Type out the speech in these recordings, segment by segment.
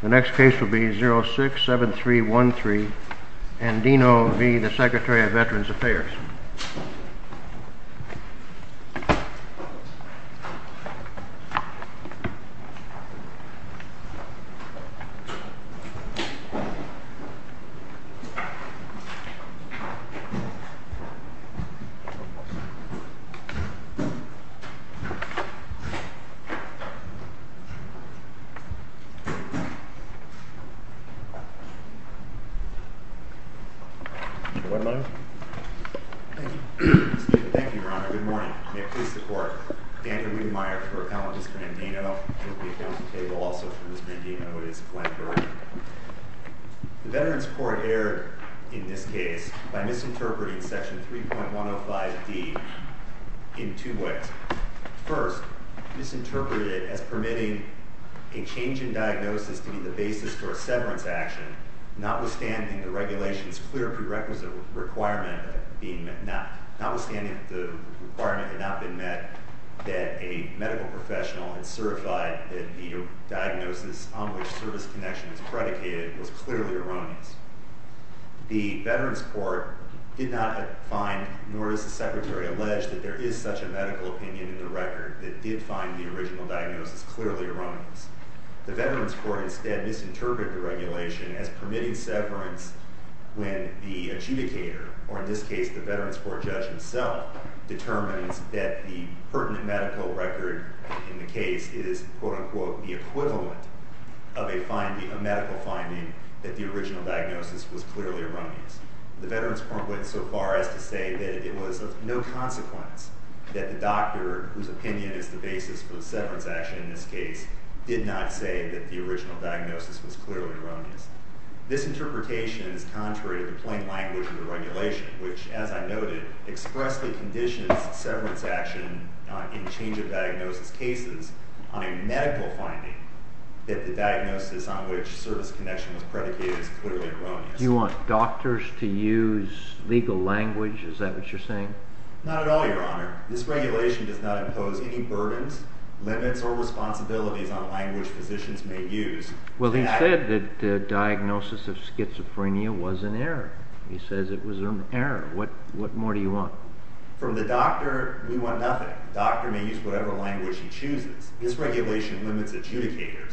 The next case will be 067313, Andino v. the Secretary of Veterans Affairs. Good morning. May it please the Court. Andrew Wiedemeyer for Appellant Ms. Brandino. And we have at the table also for Ms. Brandino is Glenn Burr. The Veterans Court erred in this case by misinterpreting Section 3.105D in two ways. First, misinterpreted it as permitting a change in diagnosis to be the basis for a severance action, notwithstanding the regulations clear prerequisite requirement of it being met, notwithstanding the requirement had not been met that a medical professional had certified that the diagnosis on which service connection is predicated was clearly erroneous. The Veterans Court did not find, nor does the Secretary allege, that there is such a medical opinion in the record that did find the original diagnosis clearly erroneous. The Veterans Court instead misinterpreted the regulation as permitting severance when the adjudicator, or in this case the Veterans Court judge himself, determines that the pertinent medical record in the case is, quote-unquote, the equivalent of a medical finding that the original diagnosis was clearly erroneous. The Veterans Court went so far as to say that it was of no consequence that the doctor, whose opinion is the basis for the severance action in this case, did not say that the original diagnosis was clearly erroneous. This interpretation is contrary to the plain language of the regulation, which, as I noted, expressly conditions severance action in change-of-diagnosis cases on a medical finding that the diagnosis on which service connection was predicated is clearly erroneous. You want doctors to use legal language? Is that what you're saying? Not at all, Your Honor. This regulation does not impose any burdens, limits, or responsibilities on language physicians may use. He says it was in error. What more do you want? From the doctor, we want nothing. The doctor may use whatever language he chooses. This regulation limits adjudicators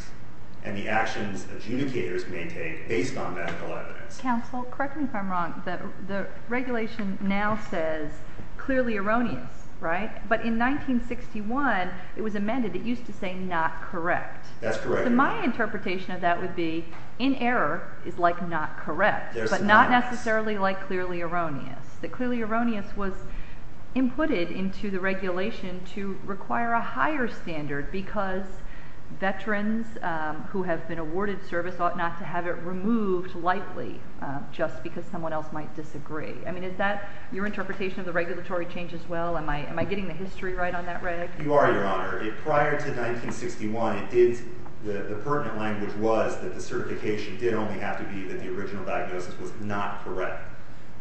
and the actions adjudicators maintain based on medical evidence. Counsel, correct me if I'm wrong. The regulation now says clearly erroneous, right? But in 1961 it was amended. It used to say not correct. That's correct, Your Honor. So my interpretation of that would be in error is like not correct, but not necessarily like clearly erroneous. The clearly erroneous was inputted into the regulation to require a higher standard because veterans who have been awarded service ought not to have it removed lightly just because someone else might disagree. I mean, is that your interpretation of the regulatory change as well? Am I getting the history right on that reg? You are, Your Honor. Prior to 1961, the pertinent language was that the certification did only have to be that the original diagnosis was not correct.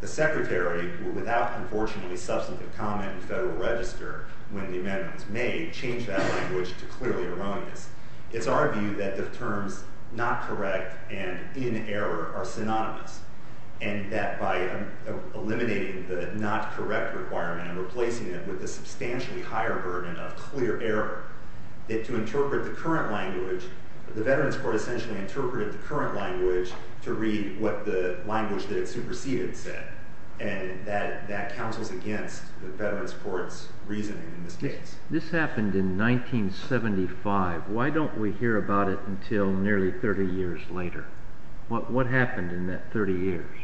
The secretary, without unfortunately substantive comment in federal register when the amendment was made, changed that language to clearly erroneous. It's our view that the terms not correct and in error are synonymous and that by eliminating the not correct requirement and replacing it with a substantially higher burden of clear error, that to interpret the current language, the veterans court essentially interpreted the current language to read what the language that it superseded said, and that counsels against the veterans court's reasoning in this case. This happened in 1975. Why don't we hear about it until nearly 30 years later? What happened in that 30 years?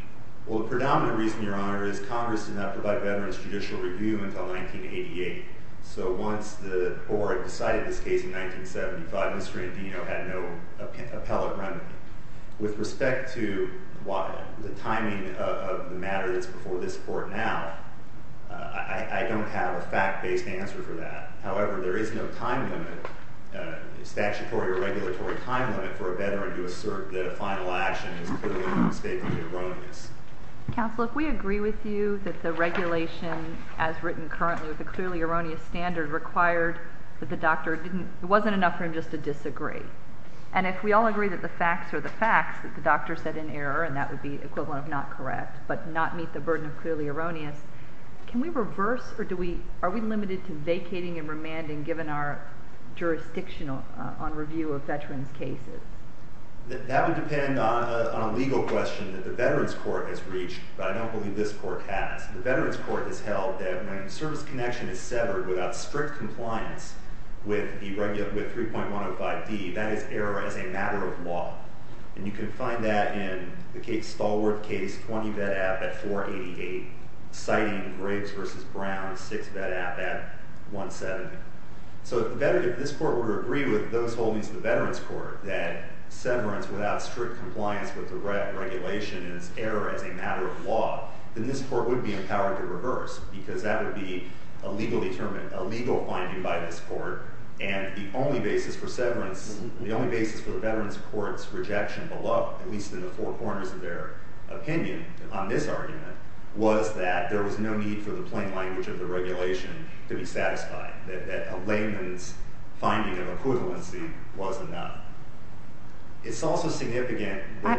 Well, the predominant reason, Your Honor, is Congress did not provide veterans judicial review until 1988. So once the board decided this case in 1975, Mr. Andino had no appellate remedy. With respect to the timing of the matter that's before this court now, I don't have a fact-based answer for that. However, there is no time limit, statutory or regulatory time limit, for a veteran to assert that a final action is clearly or mistakenly erroneous. Counsel, if we agree with you that the regulation as written currently with a clearly erroneous standard required that the doctor didn't, it wasn't enough for him just to disagree, and if we all agree that the facts are the facts, that the doctor said in error, and that would be equivalent of not correct, but not meet the burden of clearly erroneous, can we reverse or are we limited to vacating and remanding given our jurisdiction on review of veterans' cases? That would depend on a legal question that the veterans court has reached, but I don't believe this court has. The veterans court has held that when service connection is severed without strict compliance with 3.105D, that is error as a matter of law. And you can find that in the Stallworth case, 20 vet app at 488, citing Graves v. Brown, 6 vet app at 170. So if this court were to agree with those holdings of the veterans court that severance without strict compliance with the regulation is error as a matter of law, then this court would be empowered to reverse because that would be a legal finding by this court, and the only basis for severance, the only basis for the veterans court's rejection of the law, at least in the four corners of their opinion on this argument, was that there was no need for the plain language of the regulation to be satisfied, that a layman's finding of equivalency was enough. It's also significant. I'll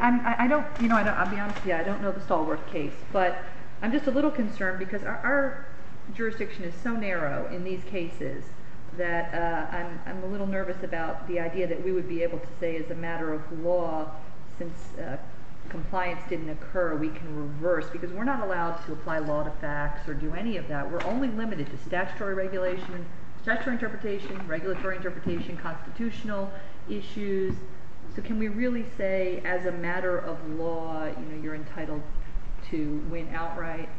be honest with you. I don't know the Stallworth case, but I'm just a little concerned because our jurisdiction is so narrow in these cases that I'm a little nervous about the idea that we would be able to say as a matter of law since compliance didn't occur we can reverse because we're not allowed to apply law to facts or do any of that. We're only limited to statutory regulation, statutory interpretation, regulatory interpretation, constitutional issues. So can we really say as a matter of law you're entitled to win outright?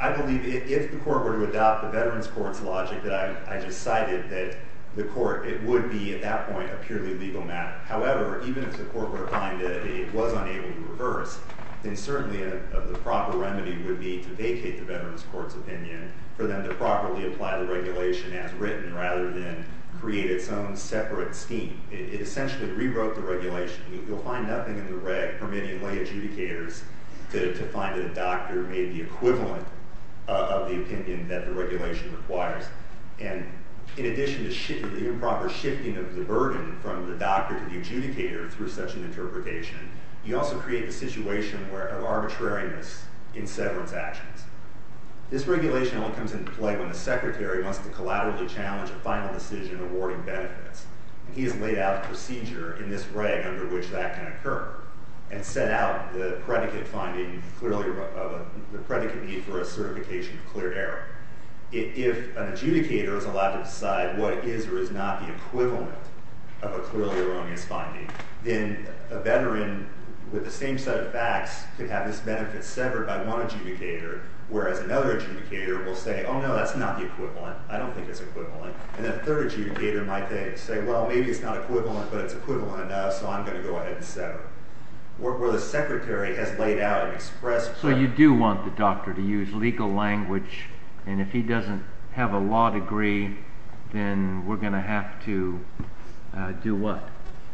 I believe if the court were to adopt the veterans court's logic that I just cited, that the court, it would be at that point a purely legal matter. However, even if the court were to find that it was unable to reverse, then certainly the proper remedy would be to vacate the veterans court's opinion for them to properly apply the regulation as written rather than create its own separate scheme. It essentially rewrote the regulation. You'll find nothing in the reg permitting lay adjudicators to find that a doctor made the equivalent of the opinion that the regulation requires. And in addition to the improper shifting of the burden from the doctor to the adjudicator through such an interpretation, you also create the situation of arbitrariness in severance actions. This regulation only comes into play when the secretary wants to collaboratively challenge a final decision awarding benefits. He has laid out a procedure in this reg under which that can occur and set out the predicate need for a certification of clear error. If an adjudicator is allowed to decide what is or is not the equivalent of a clearly erroneous finding, then a veteran with the same set of facts could have this benefit severed by one adjudicator, whereas another adjudicator will say, oh, no, that's not the equivalent. I don't think it's equivalent. And a third adjudicator might then say, well, maybe it's not equivalent, but it's equivalent enough, so I'm going to go ahead and set it, where the secretary has laid out an express plan. So you do want the doctor to use legal language, and if he doesn't have a law degree, then we're going to have to do what?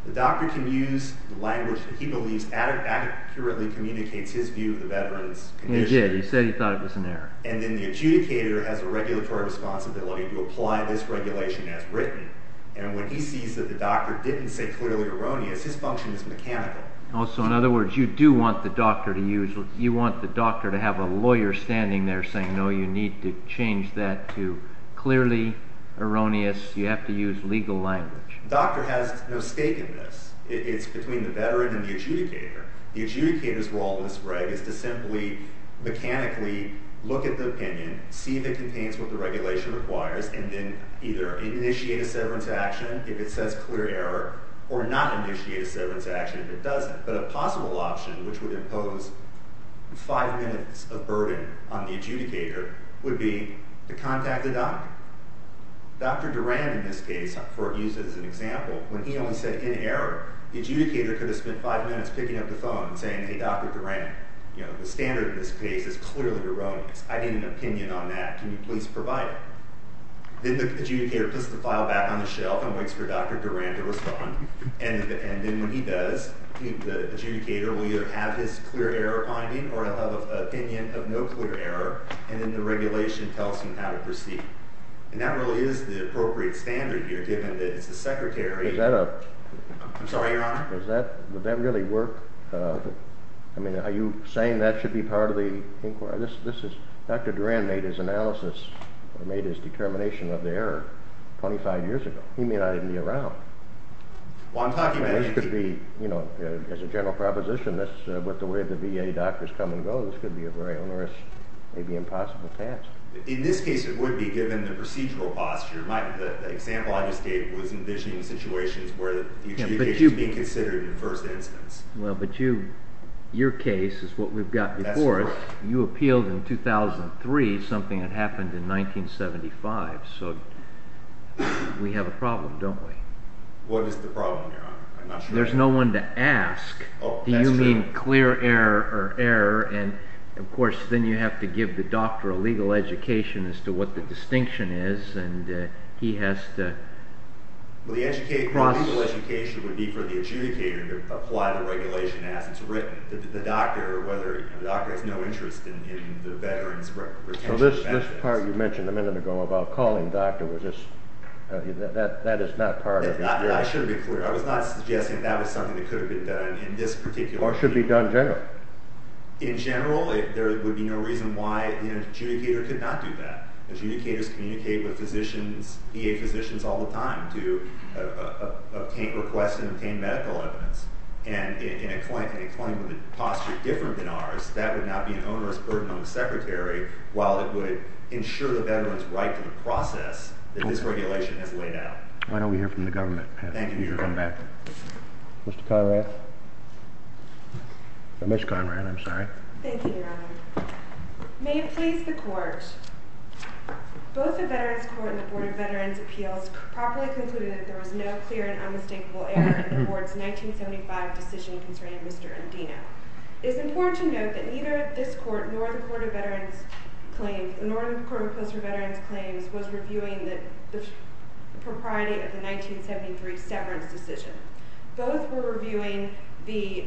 The doctor can use the language that he believes accurately communicates his view of the veteran's condition. He did. He said he thought it was an error. And then the adjudicator has a regulatory responsibility to apply this regulation as written, and when he sees that the doctor didn't say clearly erroneous, his function is mechanical. Also, in other words, you do want the doctor to have a lawyer standing there saying, no, you need to change that to clearly erroneous. You have to use legal language. The doctor has no stake in this. It's between the veteran and the adjudicator. The adjudicator's role in this reg is to simply mechanically look at the opinion, see if it contains what the regulation requires, and then either initiate a severance action if it says clear error, or not initiate a severance action if it doesn't. But a possible option, which would impose five minutes of burden on the adjudicator, would be to contact the doctor. Dr. Duran, in this case, for use as an example, when he only said in error, the adjudicator could have spent five minutes picking up the phone and saying, hey, Dr. Duran, the standard in this case is clearly erroneous. I need an opinion on that. Can you please provide it? Then the adjudicator puts the file back on the shelf and waits for Dr. Duran to respond, and then when he does, the adjudicator will either have his clear error finding or he'll have an opinion of no clear error, and then the regulation tells him how to proceed. And that really is the appropriate standard here, given that it's the secretary. I'm sorry, Your Honor? Would that really work? I mean, are you saying that should be part of the inquiry? Dr. Duran made his analysis or made his determination of the error 25 years ago. He may not even be around. This could be, as a general proposition, with the way the VA doctors come and go, this could be a very onerous, maybe impossible task. In this case, it would be, given the procedural posture. The example I just gave was envisioning situations where the adjudication is being considered in the first instance. Well, but your case is what we've got before us. That's correct. You appealed in 2003, something that happened in 1975. So we have a problem, don't we? What is the problem, Your Honor? I'm not sure. There's no one to ask. Oh, that's true. Do you mean clear error or error? And, of course, then you have to give the doctor a legal education as to what the distinction is, and he has to cross. Well, the legal education would be for the adjudicator to apply the regulation as it's written. The doctor has no interest in the veteran's retention of evidence. So this part you mentioned a minute ago about calling the doctor, that is not part of the inquiry. I should be clear. I was not suggesting that was something that could have been done in this particular case. Or should be done generally. In general, there would be no reason why the adjudicator could not do that. Adjudicators communicate with VA physicians all the time to obtain requests and obtain medical evidence. And in a claim with a posture different than ours, that would not be an onerous burden on the Secretary, while it would ensure the veteran's right to the process that this regulation has laid out. Why don't we hear from the government? Thank you, Your Honor. Mr. Kairath? Ms. Conrad, I'm sorry. Thank you, Your Honor. May it please the Court, both the Veterans Court and the Board of Veterans' Appeals properly concluded that there was no clear and unmistakable error in the Court's 1975 decision concerning Mr. Andino. It is important to note that neither this Court nor the Court of Veterans' Claims, nor the Court of Post-Veterans' Claims, was reviewing the propriety of the 1973 severance decision. Both were reviewing the...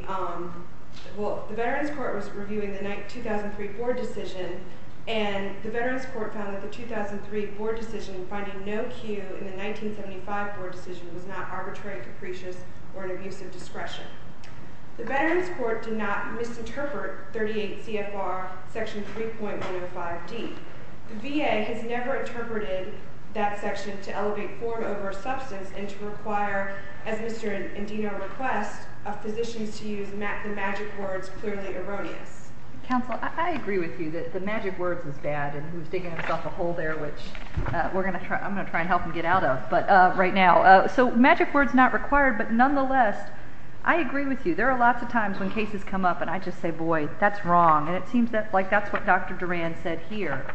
Well, the Veterans Court was reviewing the 2003 board decision, and the Veterans Court found that the 2003 board decision finding no cue in the 1975 board decision was not arbitrary, capricious, or an abuse of discretion. The Veterans Court did not misinterpret 38 CFR Section 3.105D. The VA has never interpreted that section to elevate form over substance and to require, as Mr. Andino requests, physicians to use the magic words clearly erroneous. Counsel, I agree with you that the magic words is bad, and he was digging himself a hole there, which I'm going to try and help him get out of right now. So magic words not required, but nonetheless, I agree with you. There are lots of times when cases come up and I just say, boy, that's wrong, and it seems like that's what Dr. Duran said here.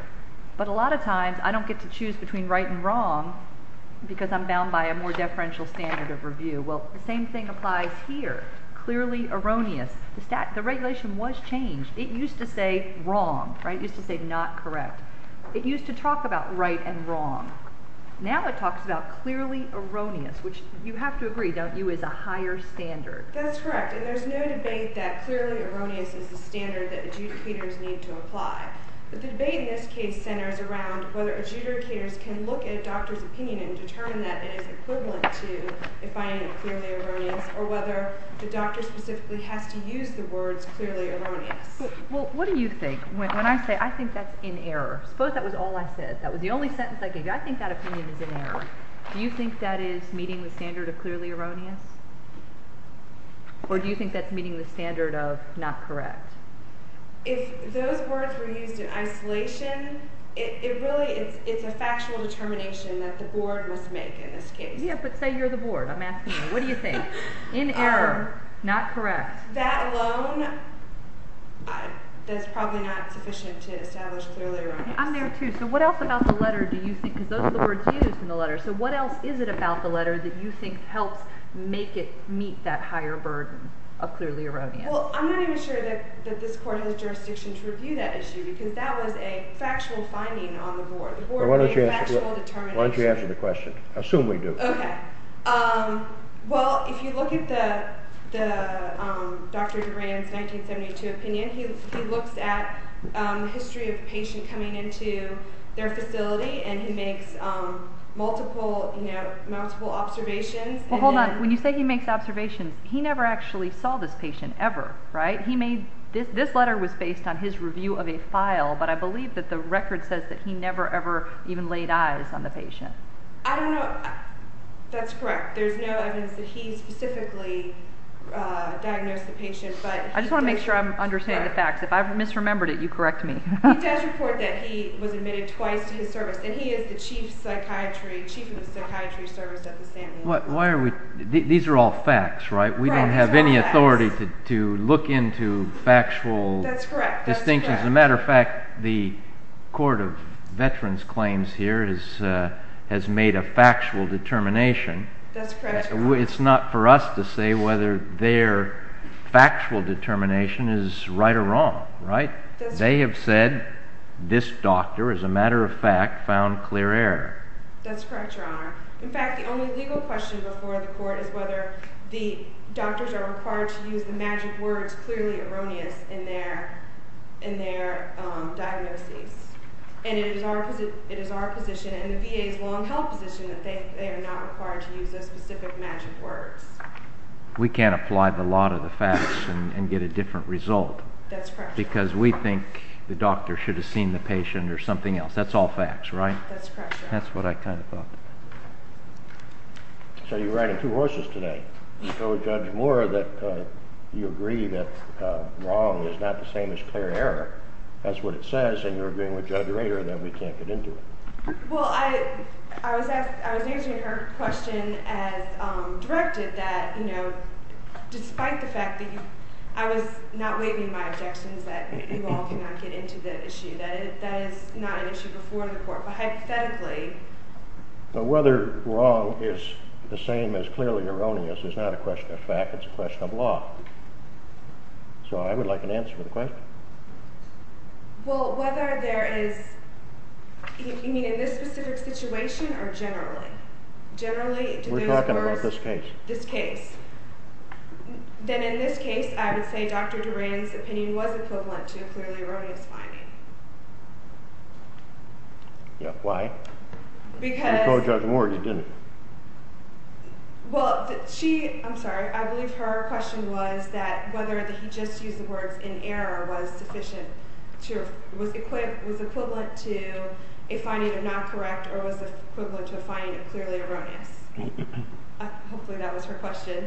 But a lot of times I don't get to choose between right and wrong because I'm bound by a more deferential standard of review. Well, the same thing applies here, clearly erroneous. The regulation was changed. It used to say wrong, right? It used to say not correct. It used to talk about right and wrong. Now it talks about clearly erroneous, which you have to agree, don't you, is a higher standard. That's correct, and there's no debate that clearly erroneous is the standard that adjudicators need to apply. But the debate in this case centers around whether adjudicators can look at a doctor's opinion and determine that it is equivalent to defining it clearly erroneous or whether the doctor specifically has to use the words clearly erroneous. Well, what do you think? When I say I think that's in error, suppose that was all I said, that was the only sentence I gave you. I think that opinion is in error. Do you think that is meeting the standard of clearly erroneous? Or do you think that's meeting the standard of not correct? If those words were used in isolation, it really is a factual determination that the board must make in this case. Yeah, but say you're the board. I'm asking you. What do you think? In error, not correct. That alone is probably not sufficient to establish clearly erroneous. I'm there too. So what else about the letter do you think, because those are the words used in the letter, so what else is it about the letter that you think helps make it meet that higher burden of clearly erroneous? Well, I'm not even sure that this court has jurisdiction to review that issue because that was a factual finding on the board. The board made a factual determination. Why don't you answer the question? Assume we do. Okay. Well, if you look at Dr. Durand's 1972 opinion, he looks at the history of a patient coming into their facility and he makes multiple observations. Well, hold on. When you say he makes observations, he never actually saw this patient ever, right? This letter was based on his review of a file, but I believe that the record says that he never ever even laid eyes on the patient. I don't know. That's correct. There's no evidence that he specifically diagnosed the patient. I just want to make sure I'm understanding the facts. If I've misremembered it, you correct me. He does report that he was admitted twice to his service, and he is the chief of the psychiatry service at the St. Louis Hospital. These are all facts, right? We don't have any authority to look into factual distinctions. As a matter of fact, the Court of Veterans Claims here has made a factual determination. It's not for us to say whether their factual determination is right or wrong, right? They have said this doctor, as a matter of fact, found clear error. That's correct, Your Honor. In fact, the only legal question before the Court is whether the doctors are required to use the magic words clearly erroneous in their diagnoses. It is our position and the VA's long-held position that they are not required to use those specific magic words. We can't apply the lot of the facts and get a different result. That's correct. Because we think the doctor should have seen the patient or something else. That's correct, Your Honor. That's what I kind of thought. So you're riding two horses today. You told Judge Moore that you agree that wrong is not the same as clear error. That's what it says, and you're agreeing with Judge Rader that we can't get into it. Well, I was answering her question as directed that, you know, despite the fact that I was not waiving my objections that you all cannot get into the issue, that is not an issue before the Court. But hypothetically... But whether wrong is the same as clearly erroneous is not a question of fact. It's a question of law. So I would like an answer to the question. Well, whether there is... You mean in this specific situation or generally? Generally... We're talking about this case. This case. Then in this case, I would say Dr. Duran's opinion was equivalent to a clearly erroneous finding. Yeah, why? Because... You told Judge Moore you didn't. Well, she... I'm sorry. I believe her question was that whether he just used the words in error was sufficient to... was equivalent to a finding of not correct or was equivalent to a finding of clearly erroneous. Hopefully that was her question.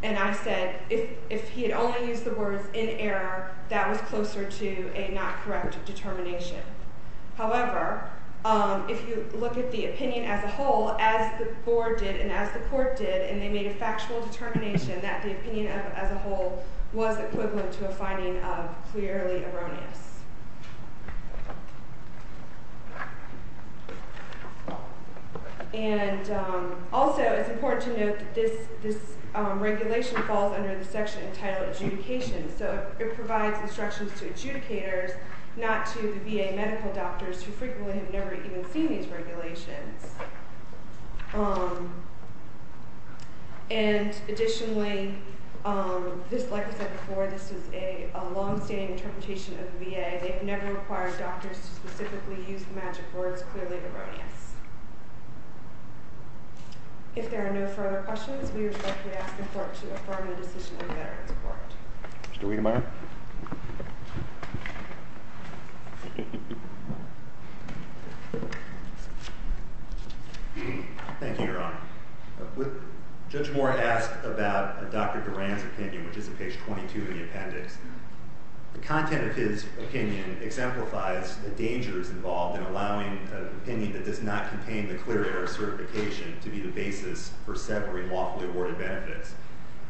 And I said if he had only used the words in error, that was closer to a not correct determination. However, if you look at the opinion as a whole, as the Board did and as the Court did, and they made a factual determination that the opinion as a whole was equivalent to a finding of clearly erroneous. Yes. And also, it's important to note that this regulation falls under the section entitled adjudication. So it provides instructions to adjudicators, not to the VA medical doctors who frequently have never even seen these regulations. And additionally, just like I said before, this is a long-standing interpretation of the VA. They've never required doctors to specifically use the magic words clearly erroneous. If there are no further questions, we respectfully ask the Court to affirm the decision of the Veterans Court. Mr. Wedemeyer. Thank you, Your Honor. Judge Moore asked about Dr. Durand's opinion, which is at page 22 in the appendix. The content of his opinion exemplifies the dangers involved in allowing an opinion that does not contain the clear error certification to be the basis for severing lawfully awarded benefits.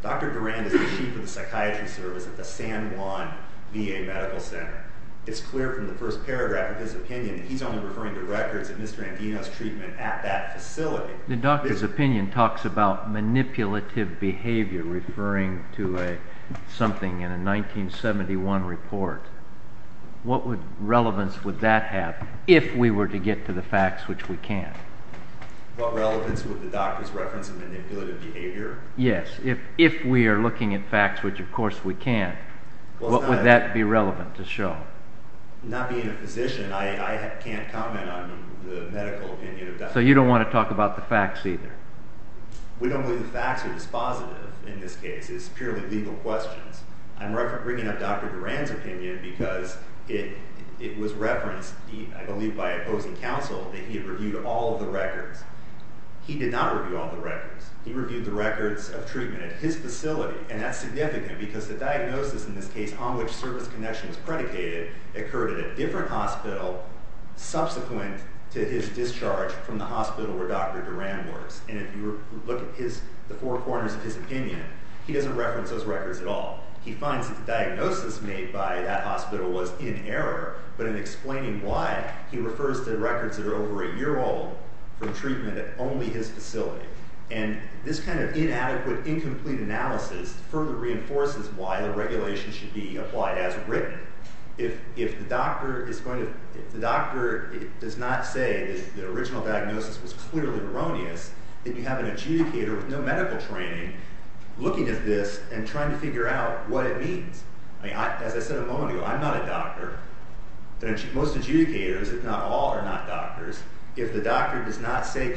Dr. Durand is the chief of the psychiatry service at the San Juan VA Medical Center. It's clear from the first paragraph of his opinion that he's only referring to records of Mr. Andino's treatment at that facility. The doctor's opinion talks about manipulative behavior, referring to something in a 1971 report. What relevance would that have if we were to get to the facts, which we can't? What relevance would the doctor's reference of manipulative behavior? Yes, if we are looking at facts, which of course we can't, what would that be relevant to show? Not being a physician, I can't comment on the medical opinion of Dr. Durand. So you don't want to talk about the facts either? We don't believe the facts are dispositive in this case. It's purely legal questions. I'm bringing up Dr. Durand's opinion because it was referenced, I believe by opposing counsel, that he reviewed all of the records. He did not review all of the records. He reviewed the records of treatment at his facility. And that's significant because the diagnosis in this case on which service connection was predicated occurred at a different hospital subsequent to his discharge from the hospital where Dr. Durand works. And if you look at the four corners of his opinion, he doesn't reference those records at all. He finds that the diagnosis made by that hospital was in error, but in explaining why, he refers to records that are over a year old from treatment at only his facility. And this kind of inadequate, incomplete analysis further reinforces why the regulation should be applied as written. If the doctor does not say that the original diagnosis was clearly erroneous, then you have an adjudicator with no medical training looking at this and trying to figure out what it means. As I said a moment ago, I'm not a doctor. Most adjudicators, if not all, are not doctors. If the doctor does not say the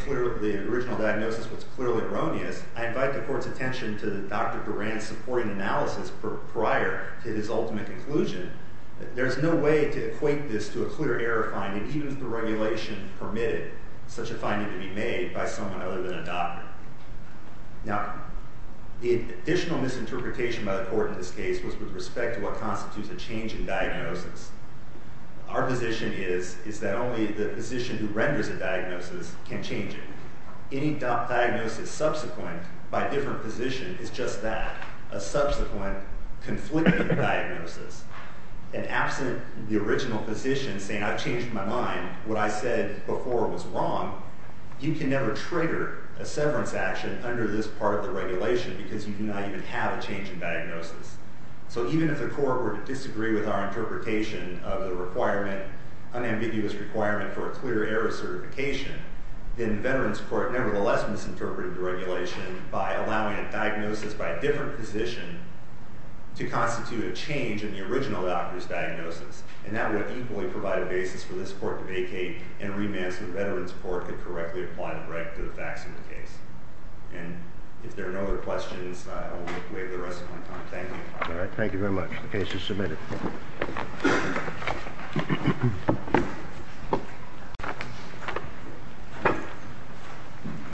original diagnosis was clearly erroneous, I invite the court's attention to Dr. Durand's supporting analysis prior to his ultimate conclusion. There's no way to equate this to a clear error finding, even if the regulation permitted such a finding to be made by someone other than a doctor. Now, the additional misinterpretation by the court in this case was with respect to what constitutes a change in diagnosis. Our position is that only the physician who renders a diagnosis can change it. Any diagnosis subsequent by a different physician is just that, a subsequent conflicting diagnosis. And absent the original physician saying, I've changed my mind, what I said before was wrong, you can never trigger a severance action under this part of the regulation because you do not even have a change in diagnosis. So even if the court were to disagree with our interpretation of the requirement, unambiguous requirement for a clear error certification, then Veterans Court nevertheless misinterpreted the regulation by allowing a diagnosis by a different physician to constitute a change in the original doctor's diagnosis. And that would equally provide a basis for this court to vacate and remand so Veterans Court could correctly apply the right to the facts of the case. And if there are no other questions, I will waive the rest of my time. Thank you. Thank you very much. The case is submitted.